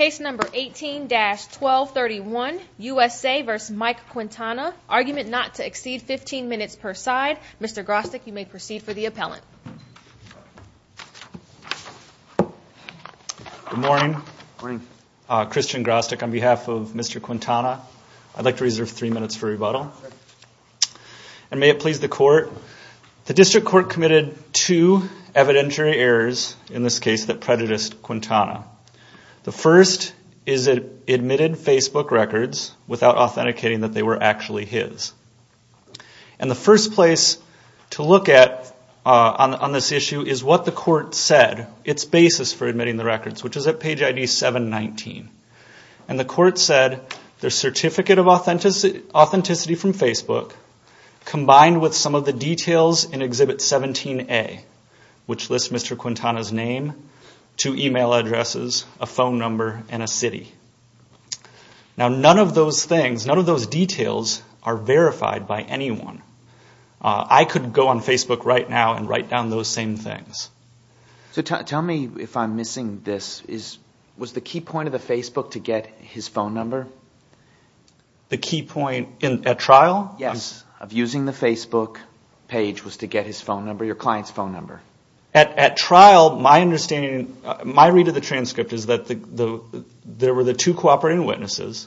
Argument not to exceed 15 minutes per side. Mr. Grostek, you may proceed for the appellant. Good morning. Christian Grostek on behalf of Mr. Quintana. I'd like to reserve three minutes for rebuttal. And may it please the court. The district court committed two evidentiary errors in this case that predated the The first is it admitted Facebook records without authenticating that they were actually his. And the first place to look at on this issue is what the court said, its basis for admitting the records, which is at page ID 719. And the court said the certificate of authenticity from Facebook combined with some of the details in Exhibit 17A, which lists Mr. Quintana's name, two email addresses, a phone number, and a city. Now, none of those things, none of those details are verified by anyone. I could go on Facebook right now and write down those same things. So tell me if I'm missing this. Was the key point of the Facebook to get his phone number? The key point at trial? Yes. Of using the Facebook page was to get his phone number, your client's phone number. At trial, my understanding, my read of the transcript is that there were the two cooperating witnesses.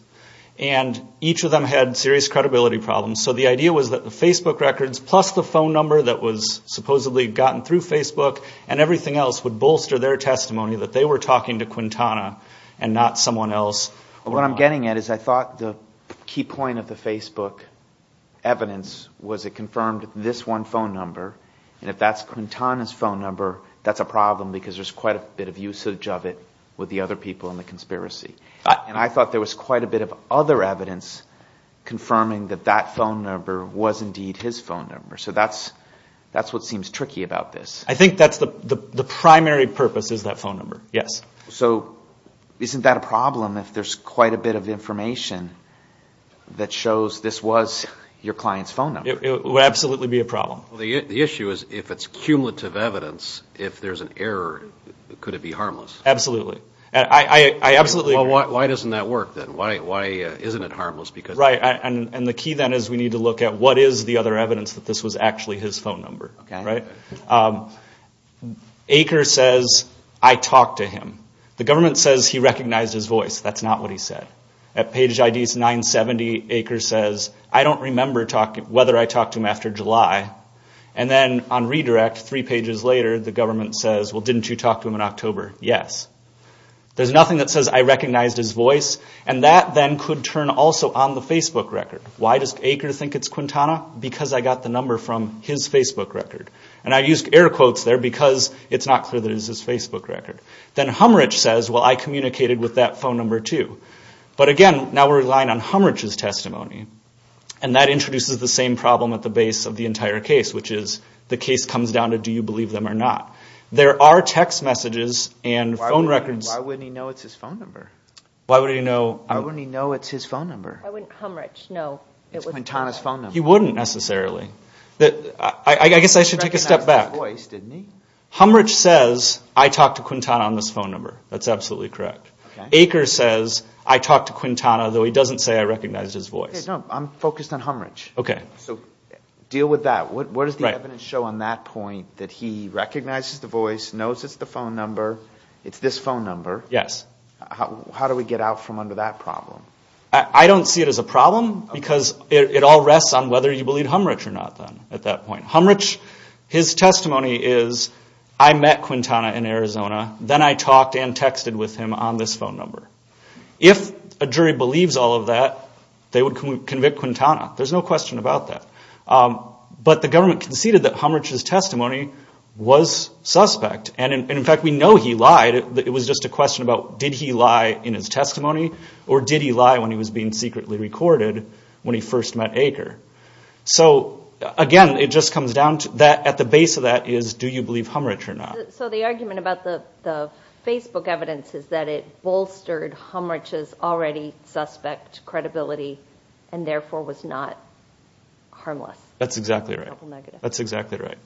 And each of them had serious credibility problems. So the idea was that the Facebook records plus the phone number that was supposedly gotten through Facebook and everything else would bolster their testimony that they were talking to Quintana and not someone else. What I'm getting at is I thought the key point of the Facebook evidence was it confirmed this one phone number. And if that's Quintana's phone number, that's a problem because there's quite a bit of usage of it with the other people in the conspiracy. And I thought there was quite a bit of other evidence confirming that that phone number was indeed his phone number. So that's what seems tricky about this. I think the primary purpose is that phone number, yes. So isn't that a problem if there's quite a bit of information that shows this was your client's phone number? It would absolutely be a problem. The issue is if it's cumulative evidence, if there's an error, could it be harmless? Absolutely. I absolutely agree. Well, why doesn't that work then? Why isn't it harmless? Right. And the key then is we need to look at what is the other evidence that this was actually his phone number, right? Aker says, I talked to him. The government says he recognized his voice. That's not what he said. At page ID 970, Aker says, I don't remember whether I talked to him after July. And then on redirect, three pages later, the government says, well, didn't you talk to him in October? Yes. There's nothing that says I recognized his voice. And that then could turn also on the Facebook record. Why does Aker think it's Quintana? Because I got the number from his Facebook record. And I used air quotes there because it's not clear that it's his Facebook record. Then Humrich says, well, I communicated with that phone number too. But again, now we're relying on Humrich's testimony. And that introduces the same problem at the base of the entire case, which is the case comes down to do you believe them or not. There are text messages and phone records. Why wouldn't he know it's his phone number? Why wouldn't he know? Why wouldn't he know it's his phone number? Why wouldn't Humrich know it was Quintana's phone number? He wouldn't necessarily. I guess I should take a step back. He recognized his voice, didn't he? Humrich says, I talked to Quintana on this phone number. That's absolutely correct. Aker says, I talked to Quintana, though he doesn't say I recognized his voice. I'm focused on Humrich. Okay. So deal with that. What does the evidence show on that point that he recognizes the voice, knows it's the phone number, it's this phone number? Yes. How do we get out from under that problem? I don't see it as a problem because it all rests on whether you believe Humrich or not then at that point. Humrich, his testimony is, I met Quintana in Arizona, then I talked and texted with him on this phone number. If a jury believes all of that, they would convict Quintana. There's no question about that. But the government conceded that Humrich's testimony was suspect. And in fact, we know he lied. It was just a question about did he lie in his testimony or did he lie when he was being secretly recorded when he first met Aker? So, again, it just comes down to that at the base of that is do you believe Humrich or not? So the argument about the Facebook evidence is that it bolstered Humrich's already suspect credibility and therefore was not harmless. That's exactly right. That's exactly right.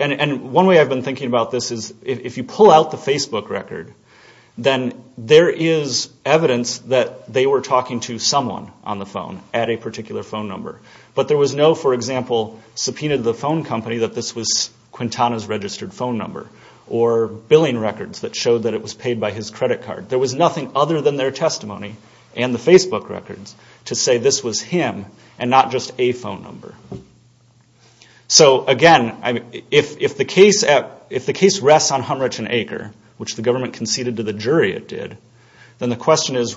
And one way I've been thinking about this is if you pull out the Facebook record, then there is evidence that they were talking to someone on the phone at a particular phone number. But there was no, for example, subpoena to the phone company that this was Quintana's registered phone number or billing records that showed that it was paid by his credit card. There was nothing other than their testimony and the Facebook records to say this was him and not just a phone number. So, again, if the case rests on Humrich and Aker, which the government conceded to the jury it did, then the question is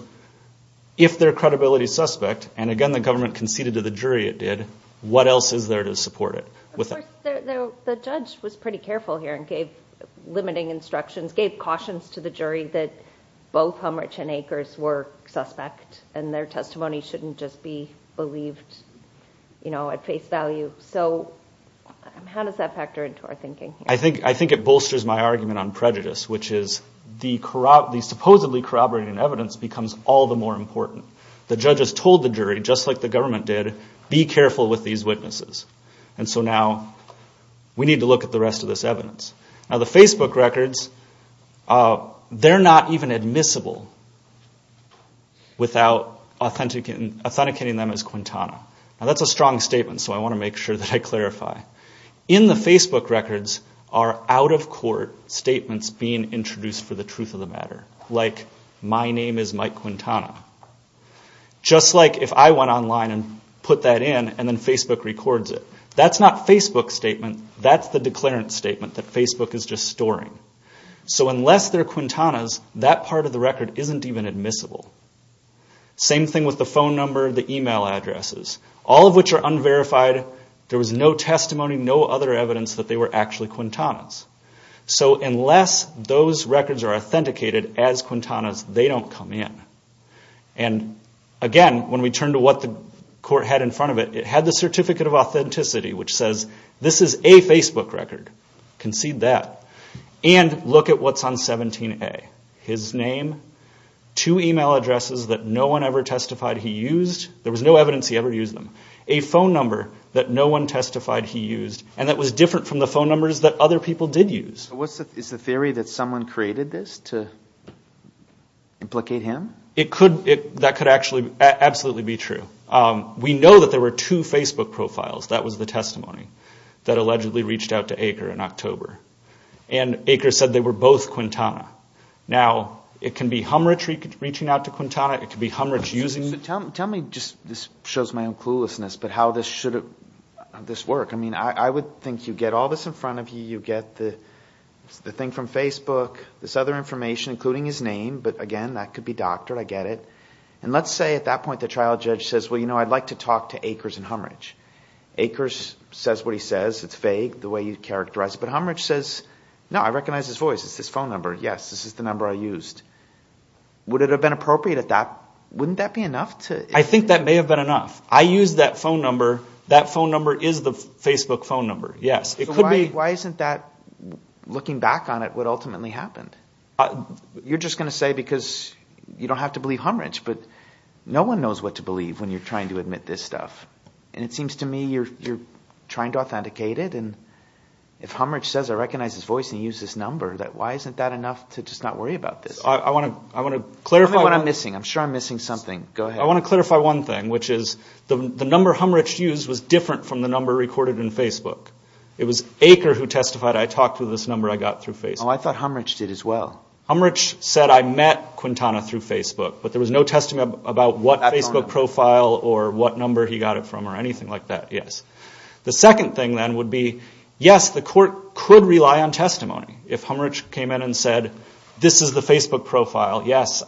if their credibility is suspect and, again, the government conceded to the jury it did, what else is there to support it? Of course, the judge was pretty careful here and gave limiting instructions, gave cautions to the jury that both Humrich and Aker were suspect and their testimony shouldn't just be believed at face value. So how does that factor into our thinking here? I think it bolsters my argument on prejudice, which is the supposedly corroborating evidence becomes all the more important. The judges told the jury, just like the government did, be careful with these witnesses. And so now we need to look at the rest of this evidence. Now, the Facebook records, they're not even admissible without authenticating them as Quintana. Now, that's a strong statement, so I want to make sure that I clarify. In the Facebook records are out-of-court statements being introduced for the truth of the matter, like, my name is Mike Quintana. Just like if I went online and put that in and then Facebook records it. That's not Facebook's statement, that's the declarant's statement that Facebook is just storing. So unless they're Quintana's, that part of the record isn't even admissible. Same thing with the phone number, the email addresses. All of which are unverified. There was no testimony, no other evidence that they were actually Quintana's. So unless those records are authenticated as Quintana's, they don't come in. And again, when we turn to what the court had in front of it, it had the Certificate of Authenticity, which says this is a Facebook record. Concede that. And look at what's on 17A. His name, two email addresses that no one ever testified he used. There was no evidence he ever used them. A phone number that no one testified he used. And that was different from the phone numbers that other people did use. So is the theory that someone created this to implicate him? That could absolutely be true. We know that there were two Facebook profiles, that was the testimony, that allegedly reached out to Aker in October. And Aker said they were both Quintana. Now, it can be Humrich reaching out to Quintana, it can be Humrich using... Tell me, this shows my own cluelessness, but how this should work. I mean, I would think you get all this in front of you. You get the thing from Facebook, this other information, including his name. But again, that could be doctored. I get it. And let's say at that point the trial judge says, well, you know, I'd like to talk to Akers and Humrich. Akers says what he says. It's vague, the way you characterize it. But Humrich says, no, I recognize his voice. It's this phone number. Yes, this is the number I used. Would it have been appropriate at that... wouldn't that be enough to... I think that may have been enough. I used that phone number. That phone number is the Facebook phone number. Yes, it could be... So why isn't that, looking back on it, what ultimately happened? You're just going to say because you don't have to believe Humrich. But no one knows what to believe when you're trying to admit this stuff. And it seems to me you're trying to authenticate it. And if Humrich says I recognize his voice and he used this number, why isn't that enough to just not worry about this? I want to clarify... What am I missing? I'm sure I'm missing something. Go ahead. I want to clarify one thing, which is the number Humrich used was different from the number recorded in Facebook. It was Aker who testified I talked to this number I got through Facebook. Oh, I thought Humrich did as well. Humrich said I met Quintana through Facebook, but there was no testimony about what Facebook profile or what number he got it from or anything like that, yes. The second thing then would be, yes, the court could rely on testimony. If Humrich came in and said, this is the Facebook profile, yes,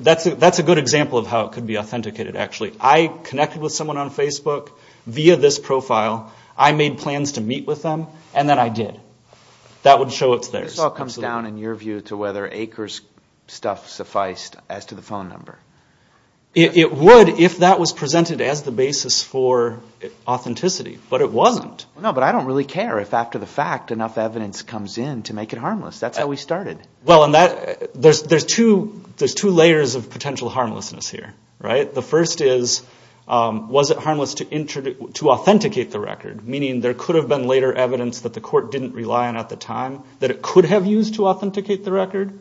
that's a good example of how it could be authenticated, actually. I connected with someone on Facebook via this profile. I made plans to meet with them, and then I did. That would show it's theirs. This all comes down, in your view, to whether Aker's stuff sufficed as to the phone number. It would if that was presented as the basis for authenticity, but it wasn't. No, but I don't really care if after the fact enough evidence comes in to make it harmless. That's how we started. Well, there's two layers of potential harmlessness here. The first is, was it harmless to authenticate the record, meaning there could have been later evidence that the court didn't rely on at the time that it could have used to authenticate the record?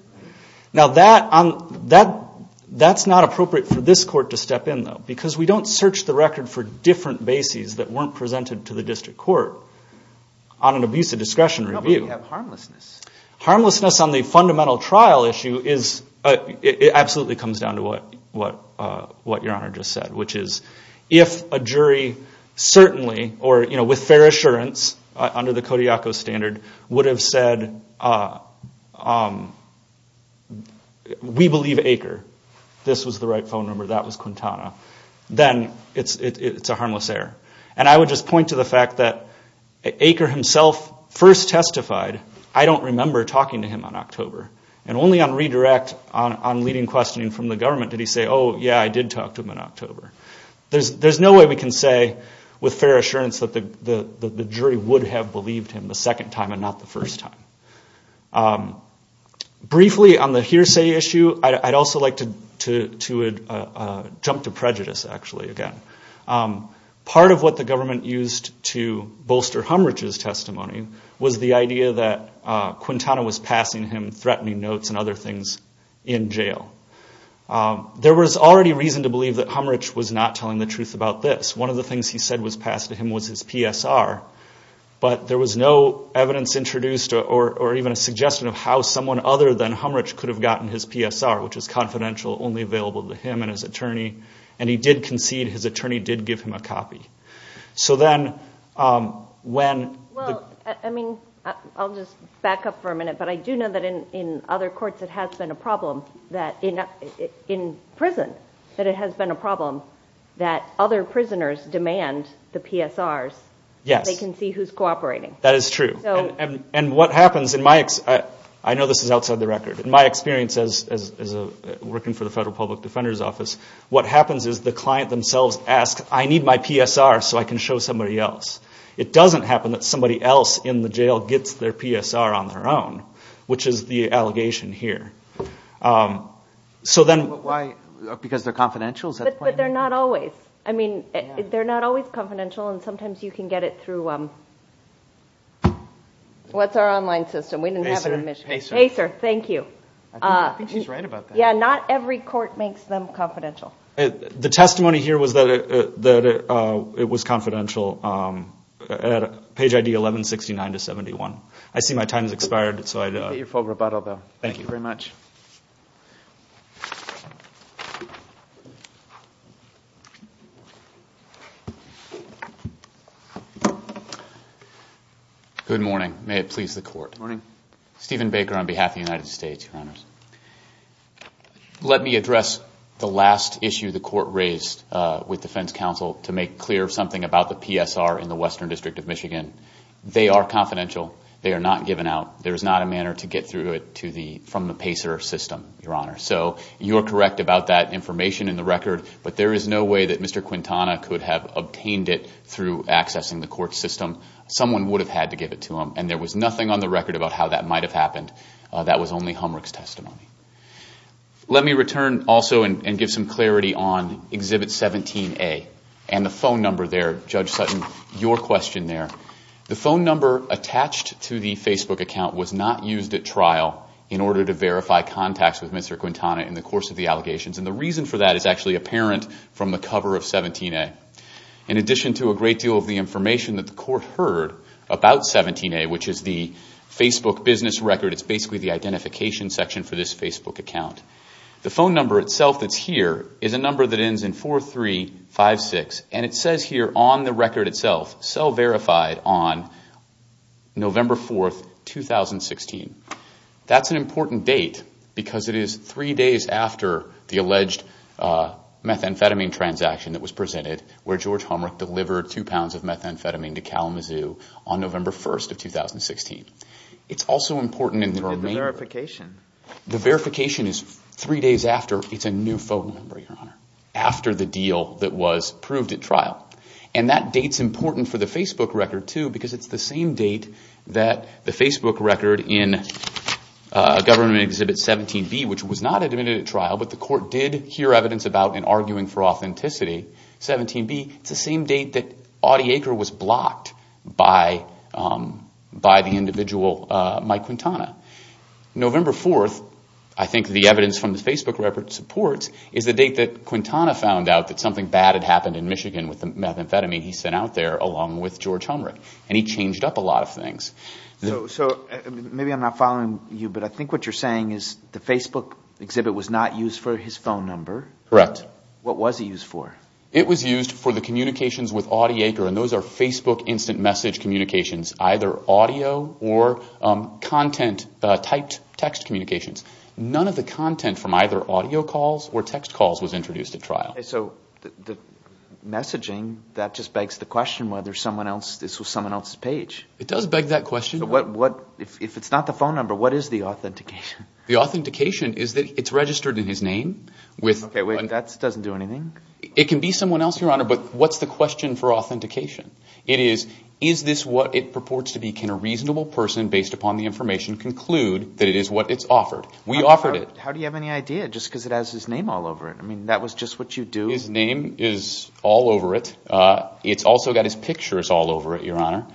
Now, that's not appropriate for this court to step in, though, because we don't search the record for different bases that weren't presented to the district court on an abuse of discretion review. No, but we have harmlessness. Harmlessness on the fundamental trial issue absolutely comes down to what your Honor just said, which is, if a jury certainly, or with fair assurance, under the Kodiakow standard, would have said, we believe Aker, this was the right phone number, that was Quintana, then it's a harmless error. I would just point to the fact that Aker himself first testified, I don't remember talking to him in October. And only on redirect, on leading questioning from the government, did he say, oh, yeah, I did talk to him in October. There's no way we can say, with fair assurance, that the jury would have believed him the second time and not the first time. Briefly, on the hearsay issue, I'd also like to jump to prejudice, actually, again. Part of what the government used to bolster Humrich's testimony was the idea that Quintana was passing him threatening notes and other things in jail. There was already reason to believe that Humrich was not telling the truth about this. One of the things he said was passed to him was his PSR, but there was no evidence introduced or even a suggestion of how someone other than Humrich could have gotten his PSR, which is confidential, only available to him and his attorney. And he did concede his attorney did give him a copy. So then when... Well, I mean, I'll just back up for a minute, but I do know that in other courts it has been a problem, in prison, that it has been a problem that other prisoners demand the PSRs so they can see who's cooperating. That is true. I know this is outside the record. In my experience as working for the Federal Public Defender's Office, what happens is the client themselves ask, I need my PSR so I can show somebody else. It doesn't happen that somebody else in the jail gets their PSR on their own, which is the allegation here. So then... But why? Because they're confidential? But they're not always. I mean, they're not always confidential, and sometimes you can get it through... What's our online system? We didn't have it in Michigan. PASER. Thank you. Yeah, not every court makes them confidential. The testimony here was that it was confidential at page ID 1169-71. I see my time has expired, so I... You get your full rebuttal, though. Thank you very much. Good morning. May it please the Court. Stephen Baker on behalf of the United States, Your Honors. Let me address the last issue the Court raised with defense counsel to make clear something about the PSR in the Western District of Michigan. They are confidential. They are not given out. There is not a manner to get through it from the PASER system, Your Honor. So you're correct about that information in the record, but there is no way that Mr. Quintana could have obtained it through accessing the court system. Someone would have had to give it to him, and there was nothing on the record about how that might have happened. That was only Humrich's testimony. Let me return also and give some clarity on Exhibit 17A and the phone number there, Judge Sutton, your question there. The phone number attached to the Facebook account was not used at trial in order to verify contacts with Mr. Quintana in the course of the allegations. And the reason for that is actually apparent from the cover of 17A. In addition to a great deal of the information that the Court heard about 17A, which is the Facebook business record, it's basically the identification section for this Facebook account. The phone number itself that's here is a number that ends in 4356, and it says here on the record itself, sell verified on November 4, 2016. That's an important date because it is 3 days after the alleged methamphetamine transaction that was presented, where George Humrich delivered 2 pounds of methamphetamine to Kalamazoo on November 1, 2016. The verification is 3 days after. It's a new phone number, Your Honor, after the deal that was proved at trial. And that date's important for the Facebook record, too, because it's the same date that the Facebook record in Government Exhibit 17B, which was not admitted at trial, but the Court did hear evidence about in arguing for authenticity, 17B, it's the same date that Audie Aker was blocked by the individual Mike Quintana. November 4, I think the evidence from the Facebook record supports, is the date that Quintana found out that something bad had happened in Michigan with the methamphetamine he sent out there along with George Humrich. And he changed up a lot of things. So maybe I'm not following you, but I think what you're saying is the Facebook exhibit was not used for his phone number. Correct. What was he used for? It was used for the communications with Audie Aker, and those are Facebook instant message communications, either audio or typed text communications. None of the content from either audio calls or text calls was introduced at trial. Okay, so the messaging, that just begs the question whether this was someone else's page. It does beg that question. If it's not the phone number, what is the authentication? The authentication is that it's registered in his name. Okay, wait, that doesn't do anything. It can be someone else, Your Honor, but what's the question for authentication? It is, is this what it purports to be? Can a reasonable person, based upon the information, conclude that it is what it's offered? We offered it. How do you have any idea, just because it has his name all over it? I mean, that was just what you do? His name is all over it. It's also got his pictures all over it, Your Honor.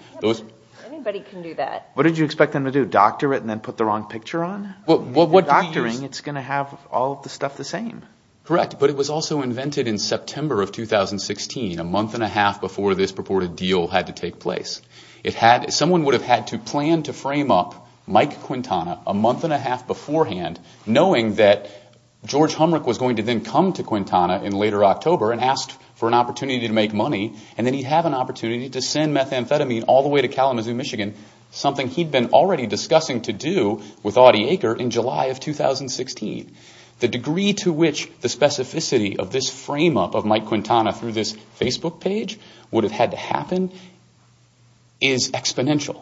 Anybody can do that. What did you expect them to do, doctor it and then put the wrong picture on? If you're doctoring, it's going to have all the stuff the same. Correct, but it was also invented in September of 2016, a month and a half before this purported deal had to take place. Someone would have had to plan to frame up Mike Quintana a month and a half beforehand, knowing that George Humrich was going to then come to Quintana in later October and ask for an opportunity to make money, and then he'd have an opportunity to send methamphetamine all the way to Kalamazoo, Michigan, something he'd been already discussing to do with Audie Aker in July of 2016. The degree to which the specificity of this frame-up of Mike Quintana through this Facebook page would have had to happen is exponential.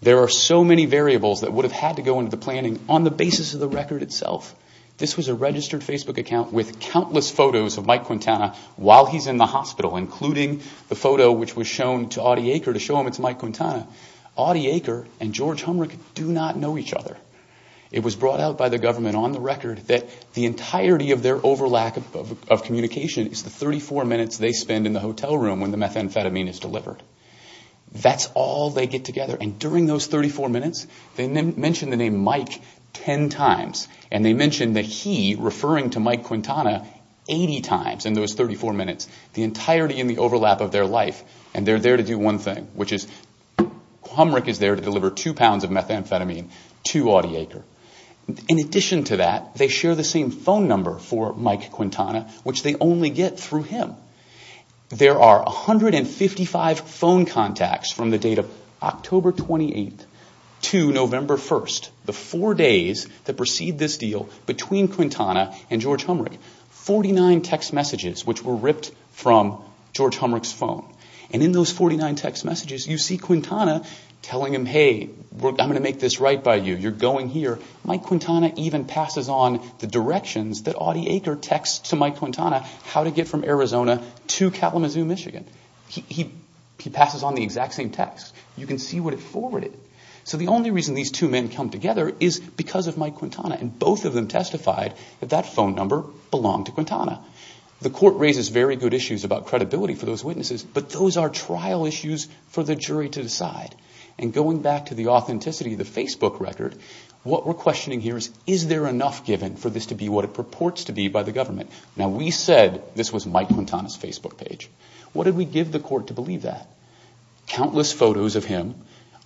There are so many variables that would have had to go into the planning on the basis of the record itself. This was a registered Facebook account with countless photos of Mike Quintana while he's in the hospital, including the photo which was shown to Audie Aker to show him it's Mike Quintana. Audie Aker and George Humrich do not know each other. It was brought out by the government on the record that the entirety of their overlap of communication is the 34 minutes they spend in the hotel room when the methamphetamine is delivered. That's all they get together, and during those 34 minutes they mention the name Mike 10 times, and they mention that he, referring to Mike Quintana, 80 times in those 34 minutes, the entirety in the overlap of their life. And they're there to do one thing, which is Humrich is there to deliver two pounds of methamphetamine to Audie Aker. In addition to that, they share the same phone number for Mike Quintana, which they only get through him. There are 155 phone contacts from the date of October 28th to November 1st, the four days that precede this deal between Quintana and George Humrich. 49 text messages which were ripped from George Humrich's phone. And in those 49 text messages, you see Quintana telling him, hey, I'm going to make this right by you. You're going here. Mike Quintana even passes on the directions that Audie Aker texts to Mike Quintana how to get from Arizona to Kalamazoo, Michigan. He passes on the exact same text. You can see what it forwarded. So the only reason these two men come together is because of Mike Quintana, and both of them testified that that phone number belonged to Quintana. The court raises very good issues about credibility for those witnesses, but those are trial issues for the jury to decide. And going back to the authenticity of the Facebook record, what we're questioning here is, is there enough given for this to be what it purports to be by the government? Now, we said this was Mike Quintana's Facebook page. What did we give the court to believe that? Countless photos of him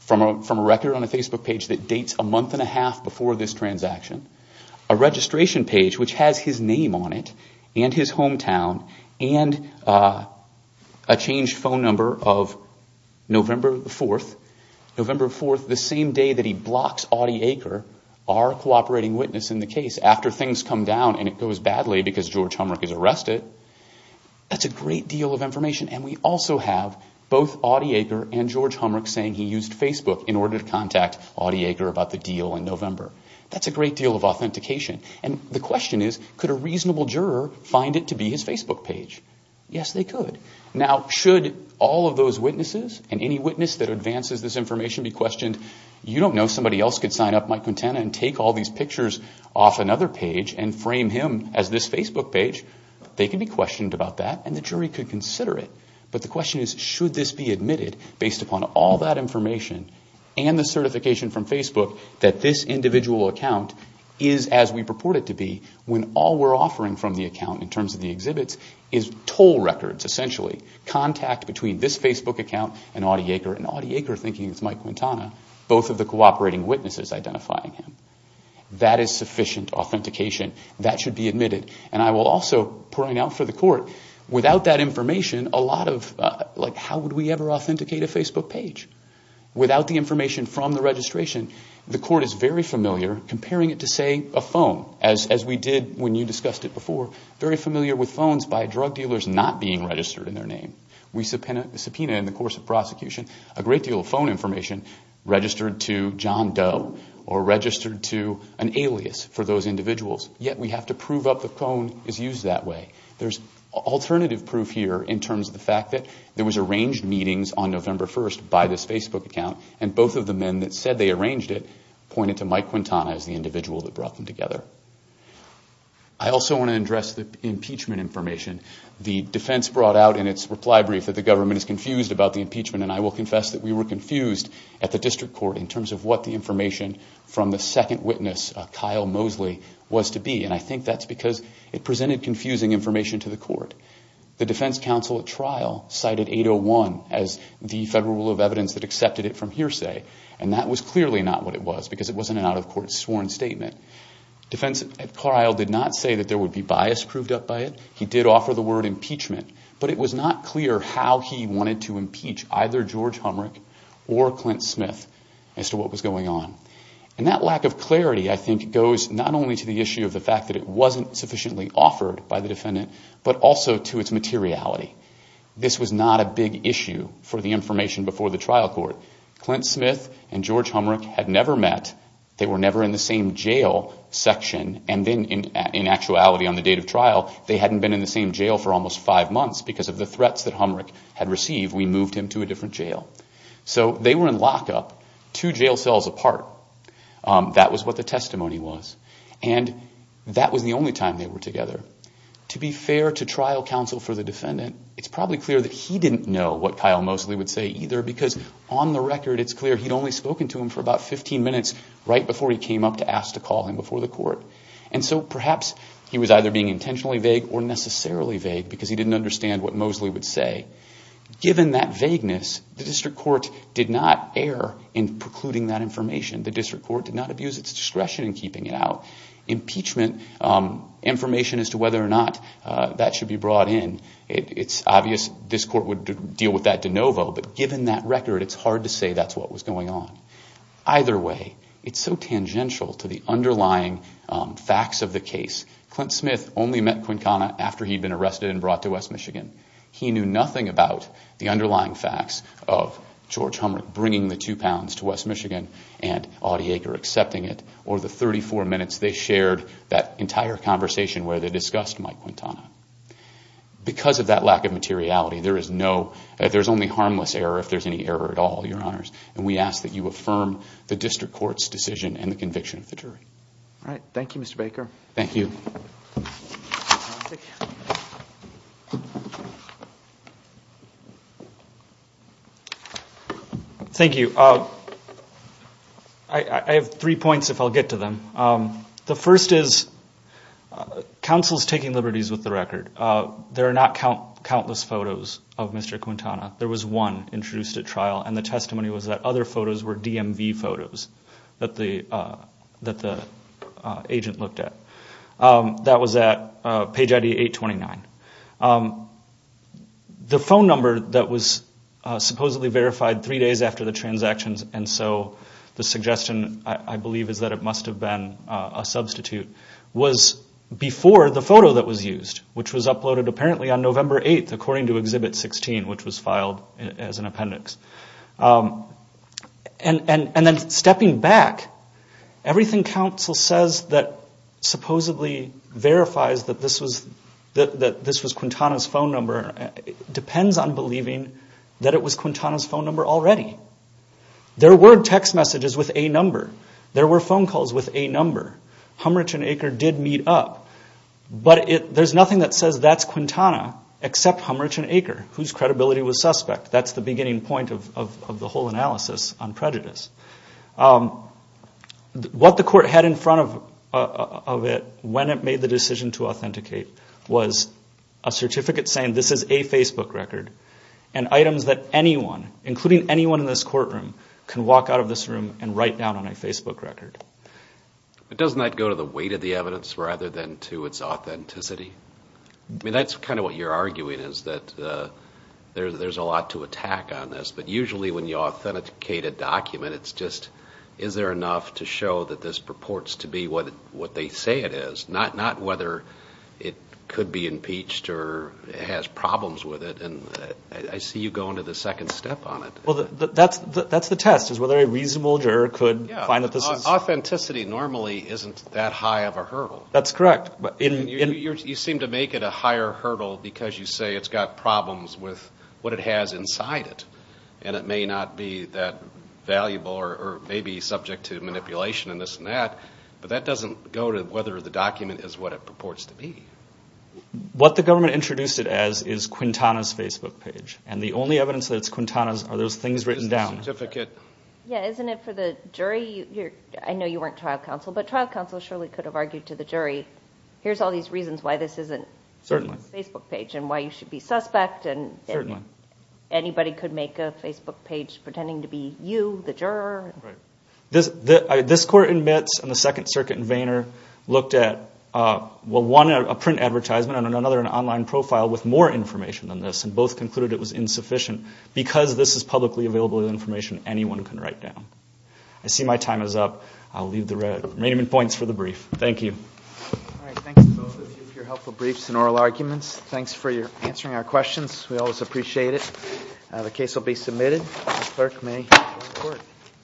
from a record on a Facebook page that dates a month and a half before this transaction, a registration page which has his name on it and his hometown, and a changed phone number of November 4th. November 4th, the same day that he blocks Audie Aker, our cooperating witness in the case, after things come down and it goes badly because George Humrich is arrested, that's a great deal of information. And we also have both Audie Aker and George Humrich saying he used Facebook in order to contact Audie Aker about the deal in November. That's a great deal of authentication. And the question is, could a reasonable juror find it to be his Facebook page? Yes, they could. Now, should all of those witnesses and any witness that advances this information be questioned? You don't know if somebody else could sign up Mike Quintana and take all these pictures off another page and frame him as this Facebook page. They can be questioned about that, and the jury could consider it. But the question is, should this be admitted based upon all that information and the certification from Facebook that this individual account is as we purport it to be when all we're offering from the account in terms of the exhibits is toll records, essentially, contact between this Facebook account and Audie Aker and Audie Aker thinking it's Mike Quintana, both of the cooperating witnesses identifying him. That is sufficient authentication. That should be admitted. And I will also point out for the court, without that information, how would we ever authenticate a Facebook page? Without the information from the registration, the court is very familiar comparing it to, say, a phone, as we did when you discussed it before, very familiar with phones by drug dealers not being registered in their name. We subpoena in the course of prosecution a great deal of phone information registered to John Doe or registered to an alias for those individuals, yet we have to prove up the phone is used that way. There's alternative proof here in terms of the fact that there was arranged meetings on November 1st by this Facebook account and both of the men that said they arranged it pointed to Mike Quintana as the individual that brought them together. I also want to address the impeachment information. The defense brought out in its reply brief that the government is confused about the impeachment and I will confess that we were confused at the district court in terms of what the information from the second witness, Kyle Mosley, was to be. And I think that's because it presented confusing information to the court. The defense counsel at trial cited 801 as the federal rule of evidence that accepted it from hearsay and that was clearly not what it was because it wasn't an out-of-court sworn statement. Defense at trial did not say that there would be bias proved up by it. He did offer the word impeachment, but it was not clear how he wanted to impeach either George Humrich or Clint Smith as to what was going on. And that lack of clarity, I think, goes not only to the issue of the fact that it wasn't sufficiently offered by the defendant, but also to its materiality. This was not a big issue for the information before the trial court. Clint Smith and George Humrich had never met. They were never in the same jail section and then in actuality on the date of trial, they hadn't been in the same jail for almost five months because of the threats that Humrich had received. We moved him to a different jail. So they were in lockup, two jail cells apart. That was what the testimony was. And that was the only time they were together. To be fair to trial counsel for the defendant, it's probably clear that he didn't know what Kyle Mosley would say either because on the record it's clear he'd only spoken to him for about 15 minutes right before he came up to ask to call him before the court. And so perhaps he was either being intentionally vague or necessarily vague because he didn't understand what Mosley would say. Given that vagueness, the district court did not err in precluding that information. The district court did not abuse its discretion in keeping it out. Impeachment information as to whether or not that should be brought in, it's obvious this court would deal with that de novo, but given that record, it's hard to say that's what was going on. Either way, it's so tangential to the underlying facts of the case. Clint Smith only met Quincana after he'd been arrested and brought to West Michigan. He knew nothing about the underlying facts of George Humrick bringing the two pounds to West Michigan and Audie Aker accepting it, or the 34 minutes they shared that entire conversation where they discussed Mike Quintana. Because of that lack of materiality, there's only harmless error if there's any error at all, Your Honors, and we ask that you affirm the district court's decision and the conviction of the jury. Thank you, Mr. Baker. Thank you. I have three points if I'll get to them. The first is, counsel's taking liberties with the record. There are not countless photos of Mr. Quintana. There was one introduced at trial, and the testimony was that other photos were DMV photos that the agent looked at. That was at page ID 829. The phone number that was supposedly verified three days after the transactions, and so the suggestion, I believe, is that it must have been a substitute, was before the photo that was used, which was uploaded apparently on November 8, according to Exhibit 16, which was filed as an appendix. And then stepping back, everything counsel says that supposedly verifies that this was Quintana's phone number depends on believing that it was Quintana's phone number already. There were text messages with a number. There were phone calls with a number. Humrich and Aker did meet up, but there's nothing that says that's Quintana, except Humrich and Aker, whose credibility was suspect. That's the beginning point of the whole analysis on prejudice. What the court had in front of it when it made the decision to authenticate was a certificate saying this is a Facebook record and items that anyone, including anyone in this courtroom, can walk out of this room and write down on a Facebook record. But doesn't that go to the weight of the evidence rather than to its authenticity? I mean, that's kind of what you're arguing, is that there's a lot to attack on this, but usually when you authenticate a document, it's just is there enough to show that this purports to be what they say it is, not whether it could be impeached or has problems with it. I see you going to the second step on it. Well, that's the test, is whether a reasonable juror could find that this is... Authenticity normally isn't that high of a hurdle. That's correct. You seem to make it a higher hurdle because you say it's got problems with what it has inside it, and it may not be that valuable or may be subject to manipulation and this and that, but that doesn't go to whether the document is what it purports to be. What the government introduced it as is Quintana's Facebook page, and the only evidence that it's Quintana's are those things written down. Yeah, isn't it for the jury? I know you weren't trial counsel, but trial counsel surely could have argued to the jury, here's all these reasons why this isn't Quintana's Facebook page and why you should be suspect, and anybody could make a Facebook page pretending to be you, the juror. Right. This court in Mitz and the Second Circuit in Vayner looked at one, a print advertisement, and another, an online profile with more information than this, and both concluded it was insufficient because this is publicly available information anyone can write down. I see my time is up. I'll leave the remaining points for the brief. Thank you. All right. Thanks to both of you for your helpful briefs and oral arguments. Thanks for answering our questions. We always appreciate it. The case will be submitted.